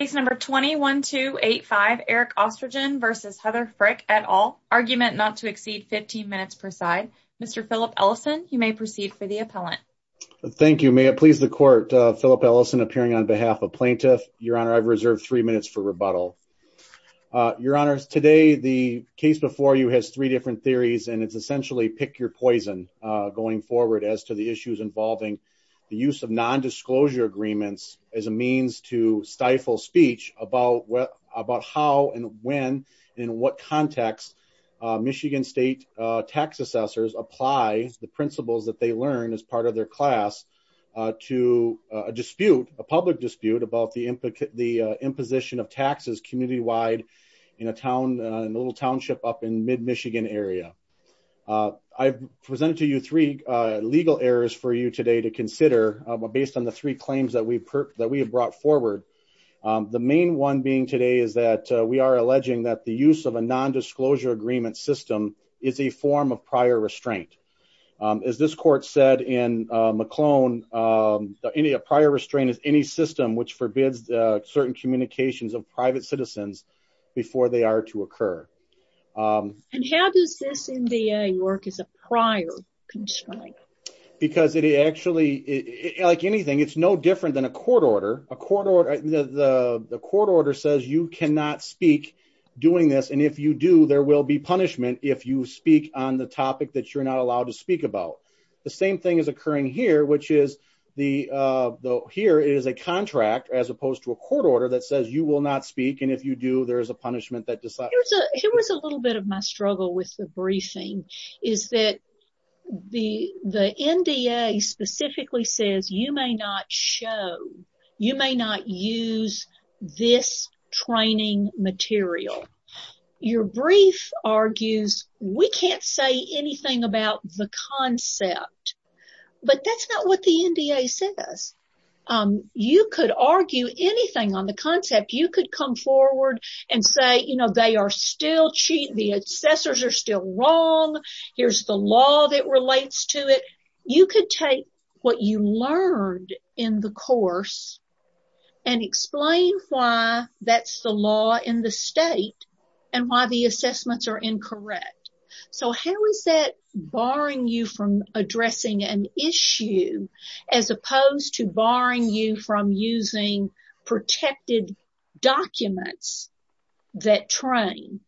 at all argument not to exceed 15 minutes per side. Mr. Philip Ellison. You may proceed for the appellant. Thank you. May it please the court. Philip Ellison appearing on behalf of plaintiff. Your honor. I've reserved 3 minutes for rebuttal your honors today. The case before you has three different theories and it's essentially pick your poison going forward as to the issues involving the use of nondisclosure agreements as a means to stifle someone's claim to the plaintiff's claim to the plaintiff's claim to the plaintiff's claim to the plaintiff's claim to the plaintiff's claim to the plaintiff's claim to the plaintiff's claim to the plaintiff's claim to the I'm delaying the speech about what about how and when in what context Michigan State tax assessors applied. The principals that they learn as part of their class to a dispute a public dispute about the implicit, the the main one being today is that we are alleging that the use of a nondisclosure agreement system is a form of prior restraint is this court said in McClone any a prior restraint is any system which forbids certain communications of private citizens before they are to occur. And how does this in the work is a prior constraint. Because it actually like anything. It's no different than a court order a quarter. The court order says you cannot speak doing this. And if you do, there will be punishment. If you speak on the topic that you're not allowed to speak about The same thing is occurring here, which is the though here is a contract as opposed to a court order that says you will not speak. And if you do, there's a punishment that Here was a little bit of my struggle with the briefing is that the the NDA specifically says, you may not show you may not use this training material. Your brief argues, we can't say anything about the concept, but that's not what the NDA says. You could argue anything on the concept, you could come forward and say, you know, they are still cheat the assessors are still wrong. Here's the law that relates to it. You could take what you learned in the course. And explain why that's the law in the state and why the assessments are incorrect. So how is that barring you from addressing an issue as opposed to barring you from using protected documents that train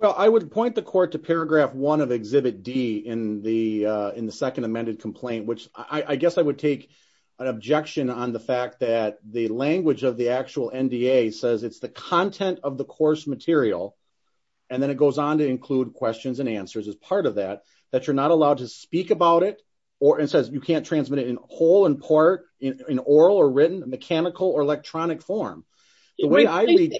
Well, I would point the court to paragraph one of exhibit D in the in the second amended complaint, which I guess I would take An objection on the fact that the language of the actual NDA says it's the content of the course material. And then it goes on to include questions and answers as part of that that you're not allowed to speak about it or and says you can't transmit it in whole and part in oral or written mechanical or electronic form. The way I read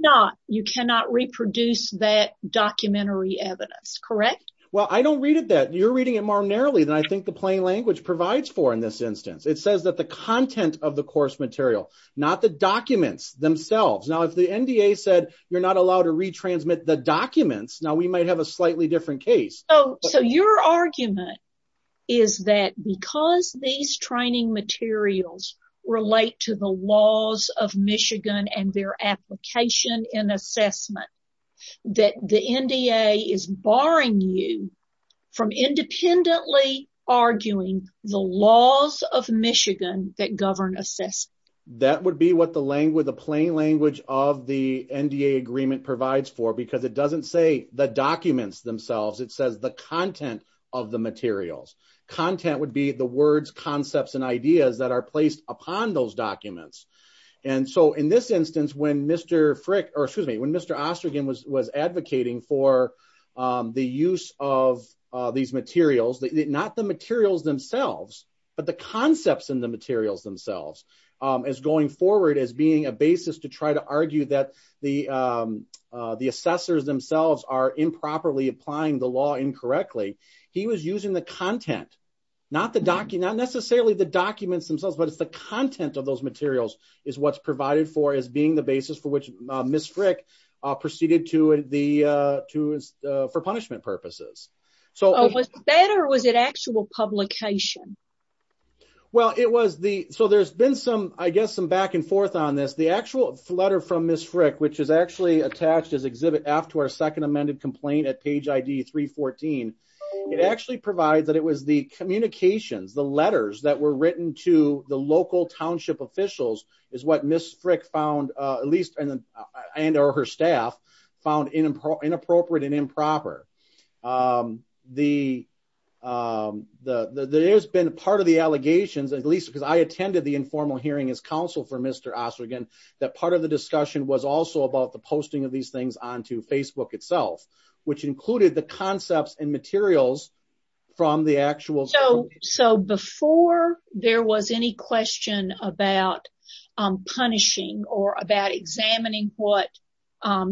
Not you cannot reproduce that documentary evidence. Correct. Well, I don't read it that you're reading it more narrowly than I think the plain language provides for in this instance, it says that the content of the course material, not the documents themselves. Now, if the NDA said you're not allowed to retransmit the documents. Now we might have a slightly different case. Oh, so your argument. Is that because these training materials relate to the laws of Michigan and their application in assessment that the NDA is barring you from independently arguing the laws of Michigan that govern assess That would be what the language, the plain language of the NDA agreement provides for because it doesn't say the documents themselves. It says the content of the materials content would be the words concepts and ideas that are placed upon those documents. And so in this instance, when Mr. Frick, or excuse me, when Mr. Osterling was was advocating for the use of these materials that not the materials themselves, but the concepts in the materials themselves as going forward as being a basis to try to argue that the The assessors themselves are improperly applying the law incorrectly. He was using the content, not the document, not necessarily the documents themselves, but it's the content of those materials is what's provided for as being the basis for which Miss Frick proceeded to the to for punishment purposes. So, Was that or was it actual publication? Well, it was the so there's been some, I guess, some back and forth on this, the actual letter from Miss Frick, which is actually attached as exhibit after our second amended complaint at page ID 314. It actually provides that it was the communications, the letters that were written to the local township officials is what Miss Frick found at least and or her staff found inappropriate and improper. The, the, there's been part of the allegations, at least because I attended the informal hearing as counsel for Mr. Osterling, that part of the discussion was also about the posting of these things onto Facebook itself, which included the concepts and materials from the actual. So, so before there was any question about punishing or about examining what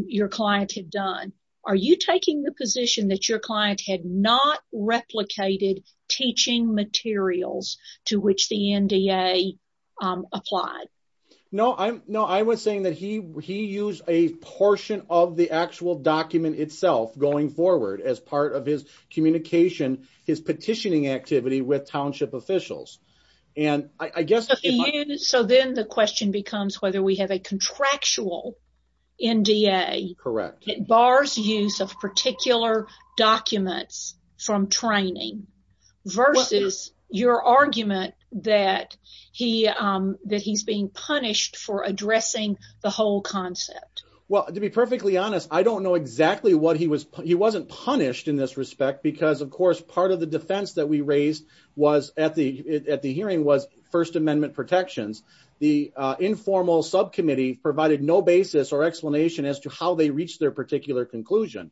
your client had done. Are you taking the position that your client had not replicated teaching materials to which the NDA applied? No, I'm no, I was saying that he, he used a portion of the actual document itself going forward as part of his communication, his petitioning activity with township officials. And I guess, So then the question becomes whether we have a contractual NDA. Correct. It bars use of particular documents from training versus your argument that he, that he's being punished for addressing the whole concept. Well, to be perfectly honest, I don't know exactly what he was, he wasn't punished in this respect because of course, part of the defense that we raised was at the, at the hearing was first amendment protections. The informal subcommittee provided no basis or explanation as to how they reached their particular conclusion.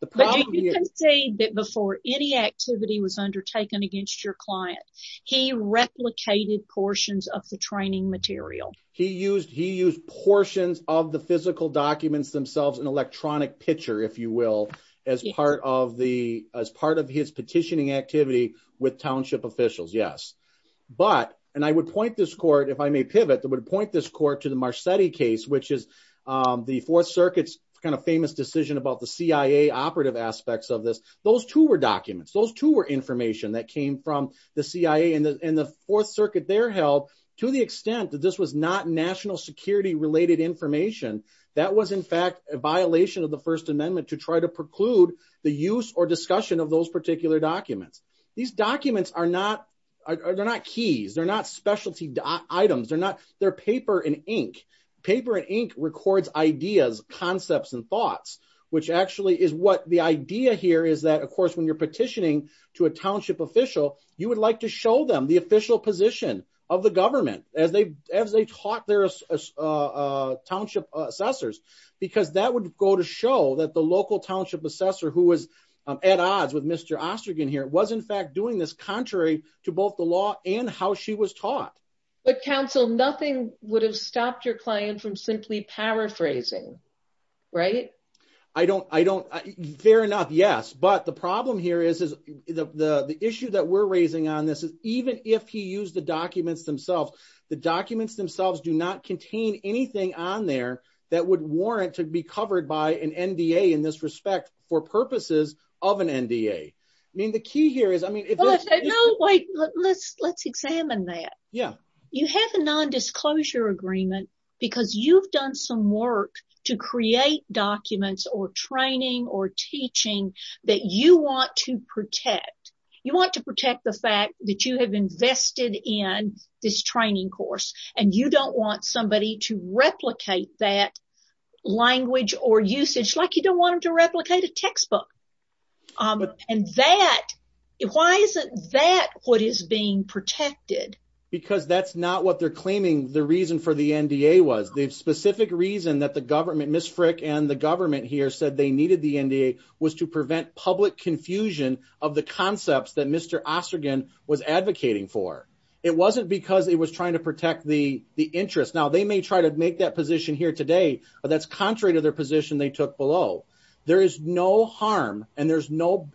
The problem is saying that before any activity was undertaken against your client, he replicated portions of the training material. He used, he used portions of the physical documents themselves in electronic picture, if you will, as part of the, as part of his petitioning activity with township officials. Yes. But, and I would point this court, if I may pivot, that would point this court to the Marsetti case, which is the fourth circuit's kind of famous decision about the CIA operative aspects of this. Those two were documents. Those two were information that came from the CIA and the, and the fourth circuit there held to the extent that this was not national security related information. That was in fact, a violation of the first amendment to try to preclude the use or discussion of those particular documents. These documents are not, they're not keys. They're not specialty items. They're not, they're paper and ink. Paper and ink records ideas, concepts, and thoughts, which actually is what the idea here is that of course, when you're petitioning to a township official, you would like to show them the official position of the government as they, as they taught their township assessors, because that would go to show that the local township assessor who was at odds with Mr. Ostergen here was in fact doing this contrary to both the law and how she was taught. But counsel, nothing would have stopped your client from simply paraphrasing, right? I don't, I don't, fair enough. Yes. But the problem here is, is the, the, the issue that we're raising on this is even if he used the documents themselves, the documents themselves do not contain anything on there that would warrant to be covered by an NDA in this respect for purposes of an NDA. I mean, the key here is, I mean, Wait, let's, let's examine that. Yeah. You have a non-disclosure agreement because you've done some work to create documents or training or teaching that you want to protect. You want to protect the fact that you have invested in this training course and you don't want somebody to replicate that language or usage, like you don't want them to replicate a textbook. And that, why isn't that what is being protected? Because that's not what they're claiming. The reason for the NDA was the specific reason that the government, Ms. Frick and the government here said they needed the NDA was to prevent public confusion of the concepts that Mr. Ostergen was advocating for. It wasn't because it was trying to protect the, the interest. Now they may try to make that position here today, but that's contrary to their position. They took below. There is no harm and there's no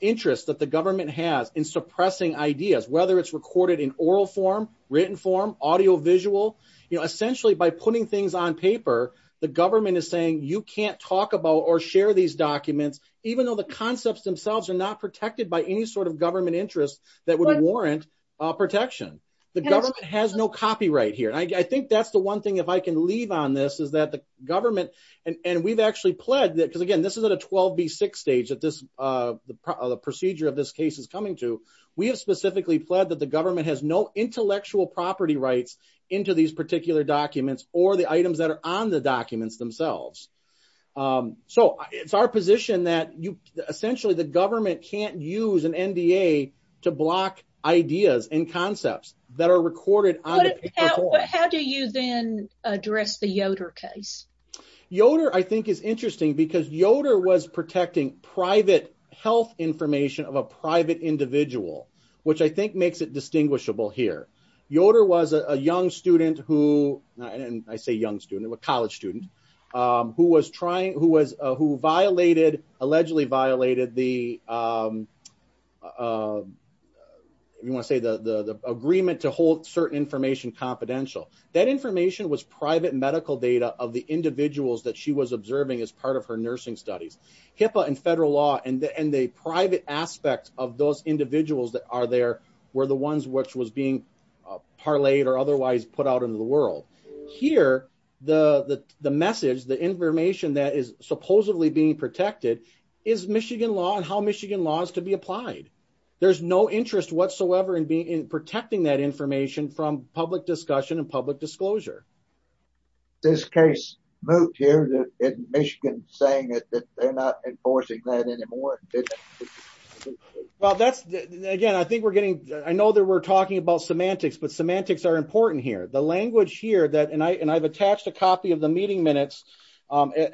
interest that the government has in suppressing ideas, whether it's recorded in oral form, written form, audio, visual, you know, essentially by putting things on paper, the government is saying you can't talk about or share these documents, even though the concepts themselves are not protected by any sort of government interest that would warrant protection. The government has no copyright here. And I think that's the one thing, if I can leave on this, is that the government and we've actually pledged that, because again, this is at a 12B6 stage that this, the procedure of this case is coming to, we have specifically pledged that the government has no intellectual property rights into these particular documents or the items that are on the documents themselves. So it's our position that you essentially, the government can't use an NDA to block ideas and concepts that are recorded. How do you then address the Yoder case? Yoder, I think is interesting because Yoder was protecting private health information of a private individual, which I think makes it distinguishable here. Yoder was a young student who, and I say young student, a college student, who was trying, who was, who violated, allegedly violated the, you want to say the agreement to hold certain information confidential. That information was private medical data of the individuals that she was observing as part of her nursing studies. HIPAA and federal law and the private aspects of those individuals that are there were the ones which was being parlayed or otherwise put out into the world. Here, the message, the information that is supposedly being protected is Michigan law and how Michigan law is to be applied. There's no interest whatsoever in being, in protecting that information from public discussion and public disclosure. This case moved here to Michigan saying that they're not enforcing that anymore. Well, that's, again, I think we're getting, I know that we're talking about semantics, but semantics are important here. The language here that, and I've attached a copy of the meeting minutes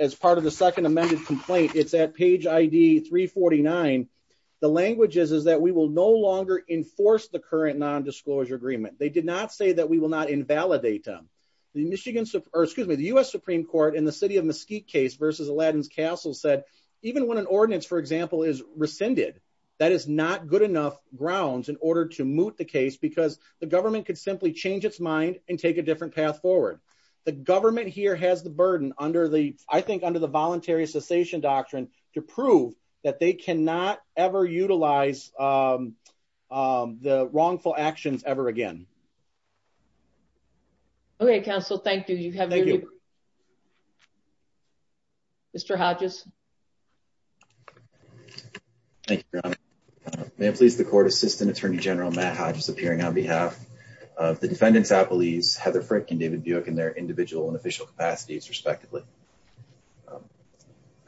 as part of the second amended complaint, it's at page ID 349. The language is, is that we will no longer enforce the current non-disclosure agreement. They did not say that we will not invalidate them. The Michigan, or excuse me, the US Supreme Court in the city of Mesquite case versus Aladdin's Castle said even when an ordinance, for example, is rescinded, that is not good enough grounds in order to moot the case because the government could simply change its mind and take a different path forward. The government here has the burden under the, I think, under the voluntary cessation doctrine to prove that they cannot ever utilize the wrongful actions ever again. Okay, counsel. Thank you. You have Mr. Hodges. Thank you. May I please the court assistant attorney general Matt Hodges appearing on behalf of the defendants, Apple, he's Heather Frick and David Buick and their individual and official capacities respectively.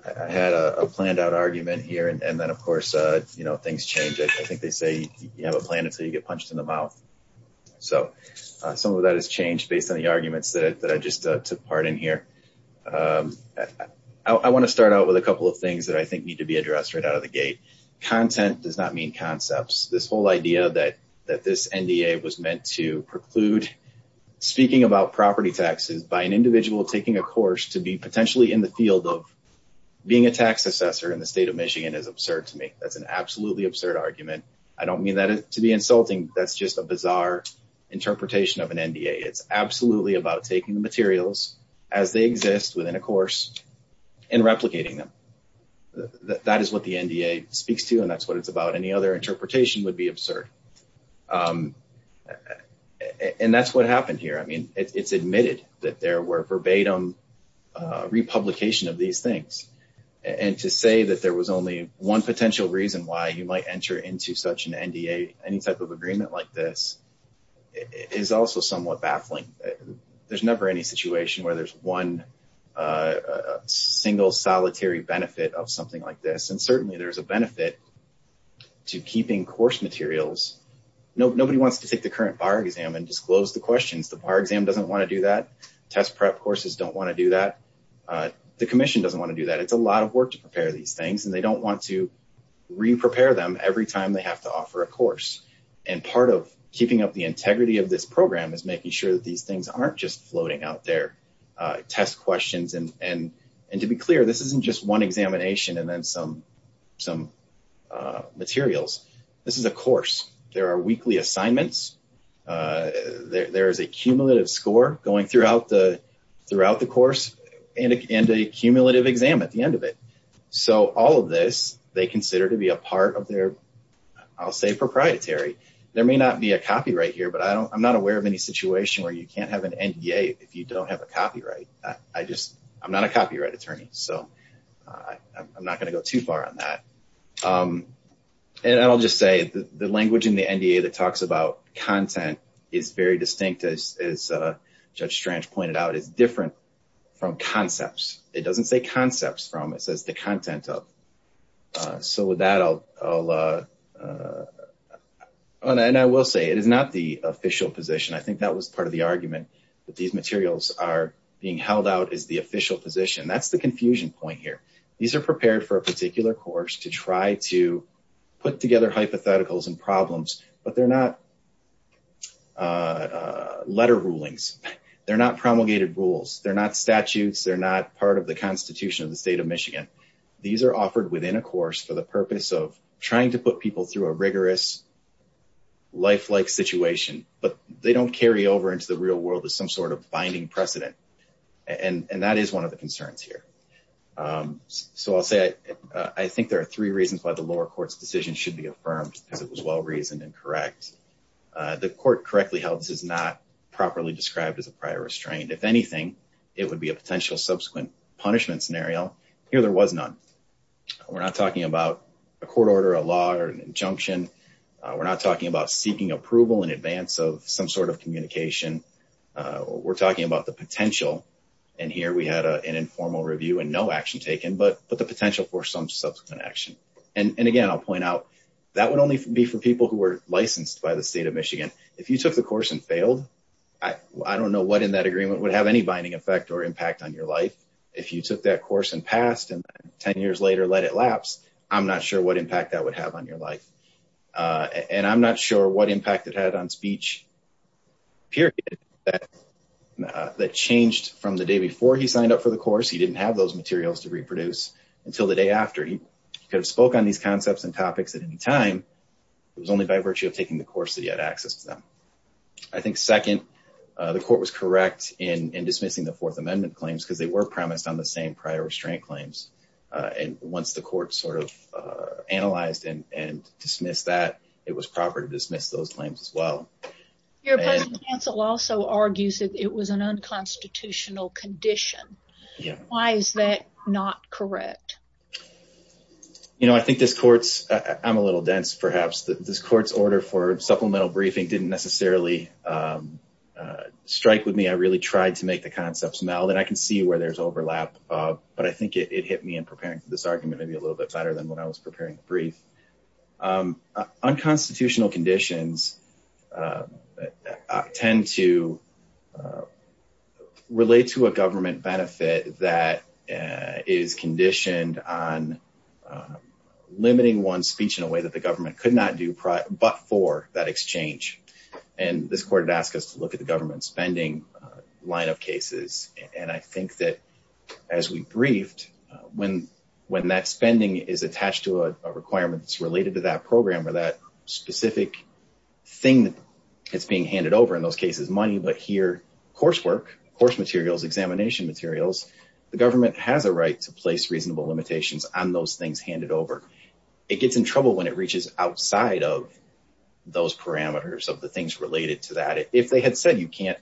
I had a planned out argument here and then, of course, you know, things change. I think they say you have a plan until you get punched in the mouth. So some of that has changed based on the arguments that I just took part in here. I want to start out with a couple of things that I think need to be addressed right out of the gate. Content does not mean concepts. This whole idea that this NDA was meant to preclude speaking about property taxes by an individual taking a course to be potentially in the field of being a tax assessor in the state of Michigan is absurd to me. That's an absolutely absurd argument. I don't mean that to be insulting. That's just a bizarre interpretation of an NDA. It's absolutely about taking the materials as they exist within a course and replicating them. That is what the NDA speaks to, and that's what it's about. Any other interpretation would be absurd. And that's what happened here. I mean, it's admitted that there were verbatim republication of these things. And to say that there was only one potential reason why you might enter into such an NDA, any type of agreement like this, is also somewhat baffling. There's never any situation where there's one single solitary benefit of something like this. And certainly there is a benefit to keeping course materials. Nobody wants to take the current bar exam and disclose the questions. The bar exam doesn't want to do that. Test prep courses don't want to do that. The commission doesn't want to do that. It's a lot of work to prepare these things, and they don't want to re-prepare them every time they have to offer a course. And part of keeping up the integrity of this program is making sure that these things aren't just floating out there. Test questions, and to be clear, this isn't just one examination and then some materials. This is a course. There are weekly assignments. There is a cumulative score going throughout the course. And a cumulative exam at the end of it. So all of this, they consider to be a part of their, I'll say, proprietary. There may not be a copyright here, but I'm not aware of any situation where you can't have an NDA if you don't have a copyright. I just, I'm not a copyright attorney, so I'm not going to go too far on that. And I'll just say, the language in the NDA that talks about content is very distinct, as Judge Strange pointed out, is different from concepts. It doesn't say concepts from, it says the content of. So with that, I'll, and I will say, it is not the official position. I think that was part of the argument that these materials are being held out as the official position. That's the confusion point here. These are prepared for a particular course to try to put together hypotheticals and problems, but they're not letter rulings. They're not promulgated rules. They're not statutes. They're not part of the constitution of the state of Michigan. These are offered within a course for the purpose of trying to put people through a rigorous, lifelike situation, but they don't carry over into the real world as some sort of binding precedent. And that is one of the concerns here. So I'll say, I think there are three reasons why the lower court's decision should be affirmed, because it was well-reasoned and correct. The court correctly held this is not properly described as a prior restraint. If anything, it would be a potential subsequent punishment scenario. Here, there was none. We're not talking about a court order, a law, or an injunction. We're not talking about seeking approval in advance of some sort of communication. We're talking about the potential. And here, we had an informal review and no action taken, but the potential for some subsequent action. And again, I'll point out, that would only be for people who were licensed by the state of Michigan. If you took the course and failed, I don't know what in that agreement would have any binding effect or impact on your life. If you took that course and passed and 10 years later let it lapse, I'm not sure what impact that would have on your life. And I'm not sure what impact it had on speech, period, that changed from the day before he signed up for the course. He didn't have those materials to reproduce until the day after. He could have spoke on these concepts and topics at any time. It was only by virtue of taking the course that he had access to them. I think second, the court was correct in dismissing the Fourth Amendment claims because they were promised on the same prior restraint claims. And once the court sort of analyzed and dismissed that, it was proper to dismiss those claims as well. Your opposing counsel also argues that it was an unconstitutional condition. Why is that not correct? You know, I think this court's, I'm a little dense perhaps, this court's order for supplemental briefing didn't necessarily strike with me. I really tried to make the concepts meld and I can see where there's overlap. But I think it hit me in preparing for this argument maybe a little bit better than when I was preparing the brief. Unconstitutional conditions tend to relate to a government benefit that is conditioned on limiting one's speech in a way that the government could not do but for that exchange. And this court had asked us to look at the government spending line of cases. And I think that as we briefed, when that spending is attached to a requirement that's related to that program or that specific thing that's being handed over, in those cases money, but here coursework, course materials, examination materials, the government has a right to place reasonable limitations on those things handed over. It gets in trouble when it reaches outside of those parameters of the things related to that. If they had said you can't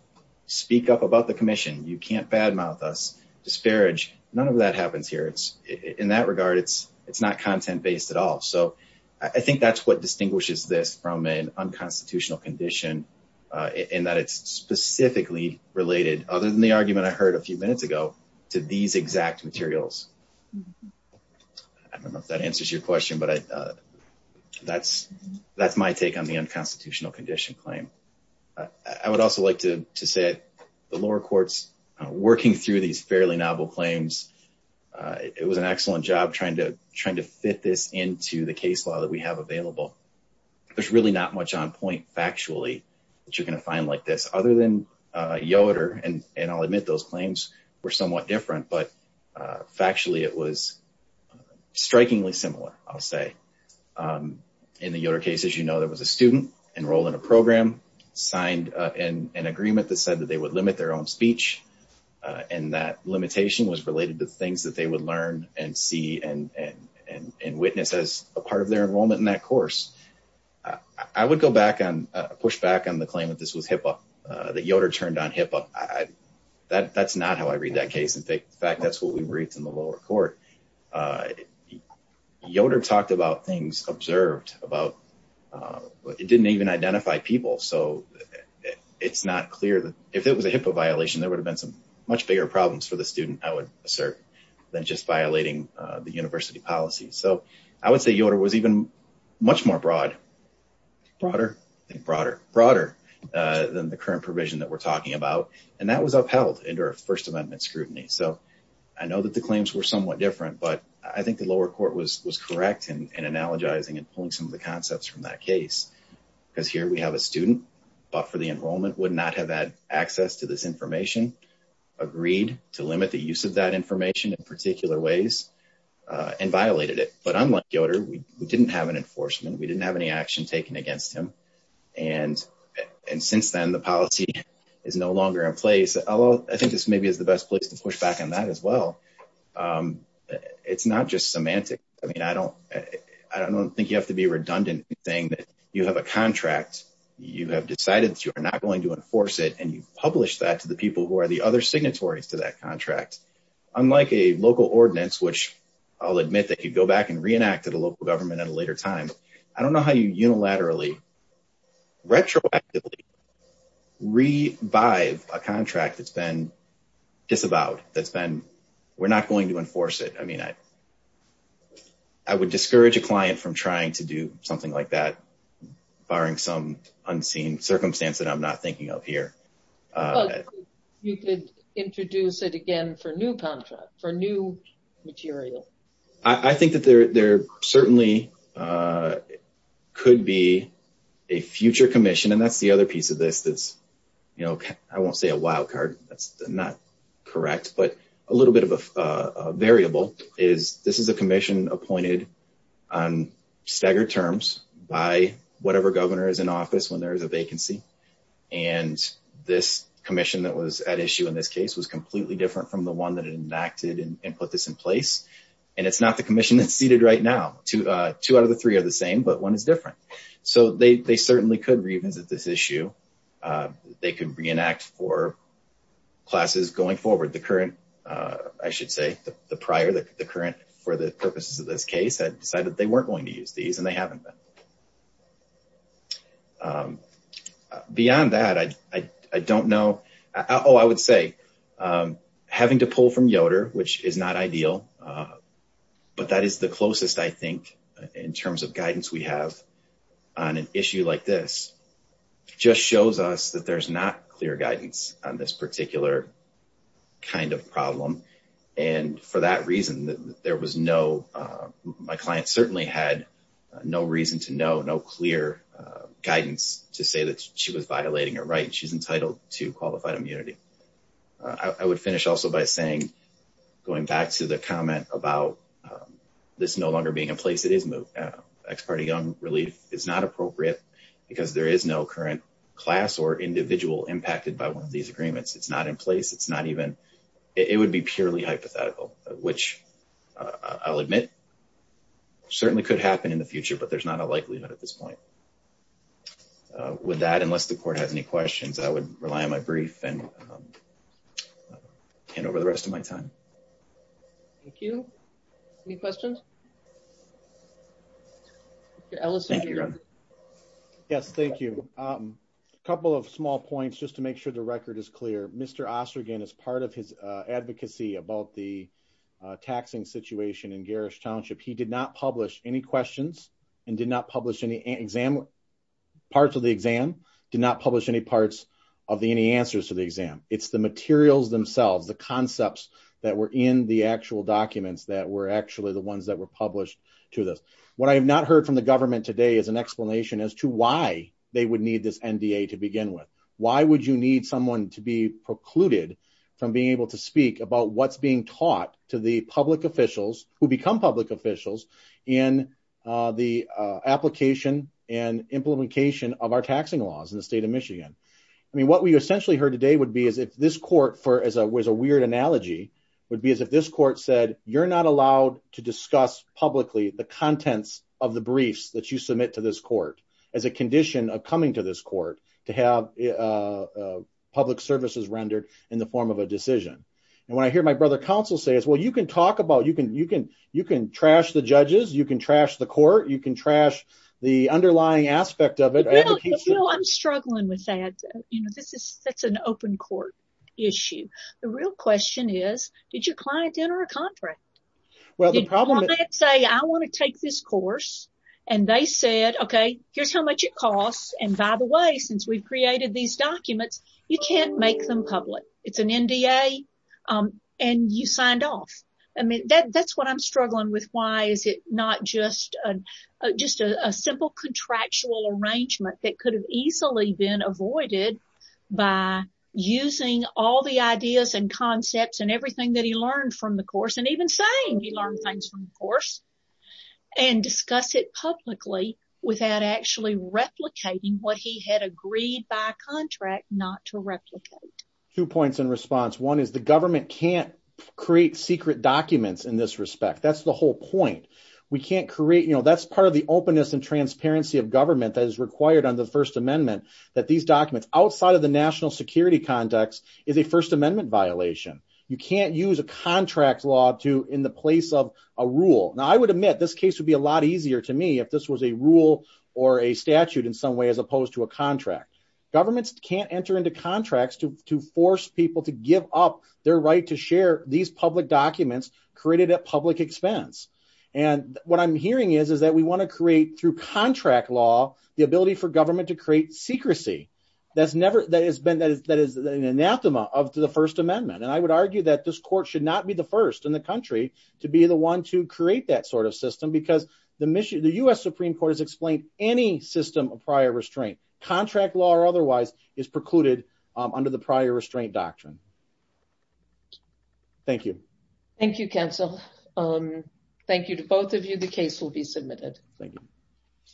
speak up about the commission, you can't bad mouth us, disparage, none of that happens here. In that regard, it's not content based at all. So I think that's what distinguishes this from an unconstitutional condition in that it's specifically related, other than the argument I heard a few minutes ago, to these exact materials. I don't know if that answers your question, but that's my take on the unconstitutional condition claim. I would also like to say the lower courts working through these fairly novel claims, it was an excellent job trying to fit this into the case law that we have available. There's really not much on point factually that you're going to find like this, other than Yoder, and I'll admit those claims were somewhat different, but factually it was strikingly similar, I'll say. In the Yoder case, as you know, there was a student enrolled in a program, signed an agreement that said that they would limit their own speech, and that limitation was related to things that they would learn and see and witness as a part of their enrollment in that course. I would go back and push back on the claim that this was HIPAA, that Yoder turned on HIPAA. That's not how I read that case. In fact, that's what we briefed in the lower court. Yoder talked about things observed about, it didn't even identify people, so it's not clear that if it was a HIPAA violation, there would have been some much bigger problems for the student, I would assert, than just violating the university policy. So I would say Yoder was even much more broad, broader, broader, broader than the current provision that we're talking about, and that was upheld under a First Amendment scrutiny. So I know that the claims were somewhat different, but I think the lower court was correct in analogizing and pulling some of the concepts from that case, because here we have a student, but for the enrollment, would not have had access to this information, agreed to limit the use of that information in particular ways, and violated it. But unlike Yoder, we didn't have an enforcement, we didn't have any action taken against him. And since then, the policy is no longer in place, although I think this maybe is the best place to push back on that as well. It's not just semantic. I mean, I don't think you have to be redundant in saying that you have a contract, you have decided that you are not going to enforce it, and you've published that to the people who are the other signatories to that contract. Unlike a local ordinance, which I'll admit that you go back and reenact to the local government at a later time, I don't know how you unilaterally, retroactively revive a contract that's been disavowed, that's been, we're not going to enforce it. I mean, I would discourage a client from trying to do something like that, barring some unseen circumstance that I'm not thinking of here. But you could introduce it again for new contract, for new material. I think that there certainly could be a future commission, and that's the other piece of this that's, you know, I won't say a wild card, that's not correct. But a little bit of a variable is this is a commission appointed on staggered terms by whatever governor is in office when there is a vacancy. And this commission that was at issue in this case was completely different from the one that enacted and put this in place. And it's not the commission that's seated right now. Two out of the three are the same, but one is different. So they certainly could revisit this issue. They could reenact for classes going forward. The current, I should say, the prior, the current for the purposes of this case, had decided they weren't going to use these, and they haven't been. Beyond that, I don't know. Oh, I would say having to pull from Yoder, which is not ideal, but that is the closest, I think, in terms of guidance we have on an issue like this just shows us that there's not clear guidance on this particular kind of problem. And for that reason, there was no, my client certainly had no reason to know, no clear guidance to say that she was violating a right. She's entitled to qualified immunity. I would finish also by saying, going back to the comment about this no longer being in place, it is moved. Ex parte young relief is not appropriate because there is no current class or individual impacted by one of these agreements. It's not in place. It's not even, it would be purely hypothetical, which I'll admit certainly could happen in the future, but there's not a likelihood at this point. With that, unless the court has any questions, I would rely on my brief and hand over the rest of my time. Thank you. Any questions? Ellis. Yes, thank you. A couple of small points, just to make sure the record is clear. Mr. Ostergen is part of his advocacy about the taxing situation in garish township. He did not publish any questions and did not publish any exam. Parts of the exam did not publish any parts of the, any answers to the exam. It's the materials themselves, the concepts that were in the actual documents that were actually the ones that were published to this. What I have not heard from the government today is an explanation as to why they would need this NDA to begin with. Why would you need someone to be precluded from being able to speak about what's being taught to the public officials who become public officials in the application and implementation of our taxing laws in the state of Michigan? I mean, what we essentially heard today would be is if this court for, as a weird analogy, would be as if this court said, you're not allowed to discuss publicly the contents of the briefs that you submit to this court as a condition of coming to this court to have public services rendered in the form of a decision. And when I hear my brother counsel say is, well, you can talk about, you can, you can, you can trash the judges. You can trash the court. You can trash the underlying aspect of it. I'm struggling with that. You know, this is, that's an open court issue. The real question is, did your client enter a contract? Well, the problem is say, I want to take this course. And they said, OK, here's how much it costs. And by the way, since we've created these documents, you can't make them public. It's an NDA. And you signed off. I mean, that's what I'm struggling with. Why is it not just just a simple contractual arrangement that could have easily been avoided by using all the ideas and concepts and everything that he learned from the course and even saying he learned things from the course and discuss it publicly without actually replicating what he had agreed by contract not to replicate. Two points in response. One is the government can't create secret documents in this respect. That's the whole point. We can't create, you know, that's part of the openness and transparency of government that is required under the First Amendment that these documents outside of the national security context is a First Amendment violation. You can't use a contract law to in the place of a rule. Now, I would admit this case would be a lot easier to me if this was a rule or a statute in some way, as opposed to a contract. Governments can't enter into contracts to to force people to give up their right to share these public documents created at public expense. And what I'm hearing is, is that we want to create through contract law the ability for government to create secrecy. That's never that has been that is that is an anathema of the First Amendment. And I would argue that this court should not be the first in the country to be the one to create that sort of system, because the the U.S. Supreme Court has explained any system of prior restraint. Contract law or otherwise is precluded under the prior restraint doctrine. Thank you. Thank you, counsel. Thank you to both of you. The case will be submitted. Thank you.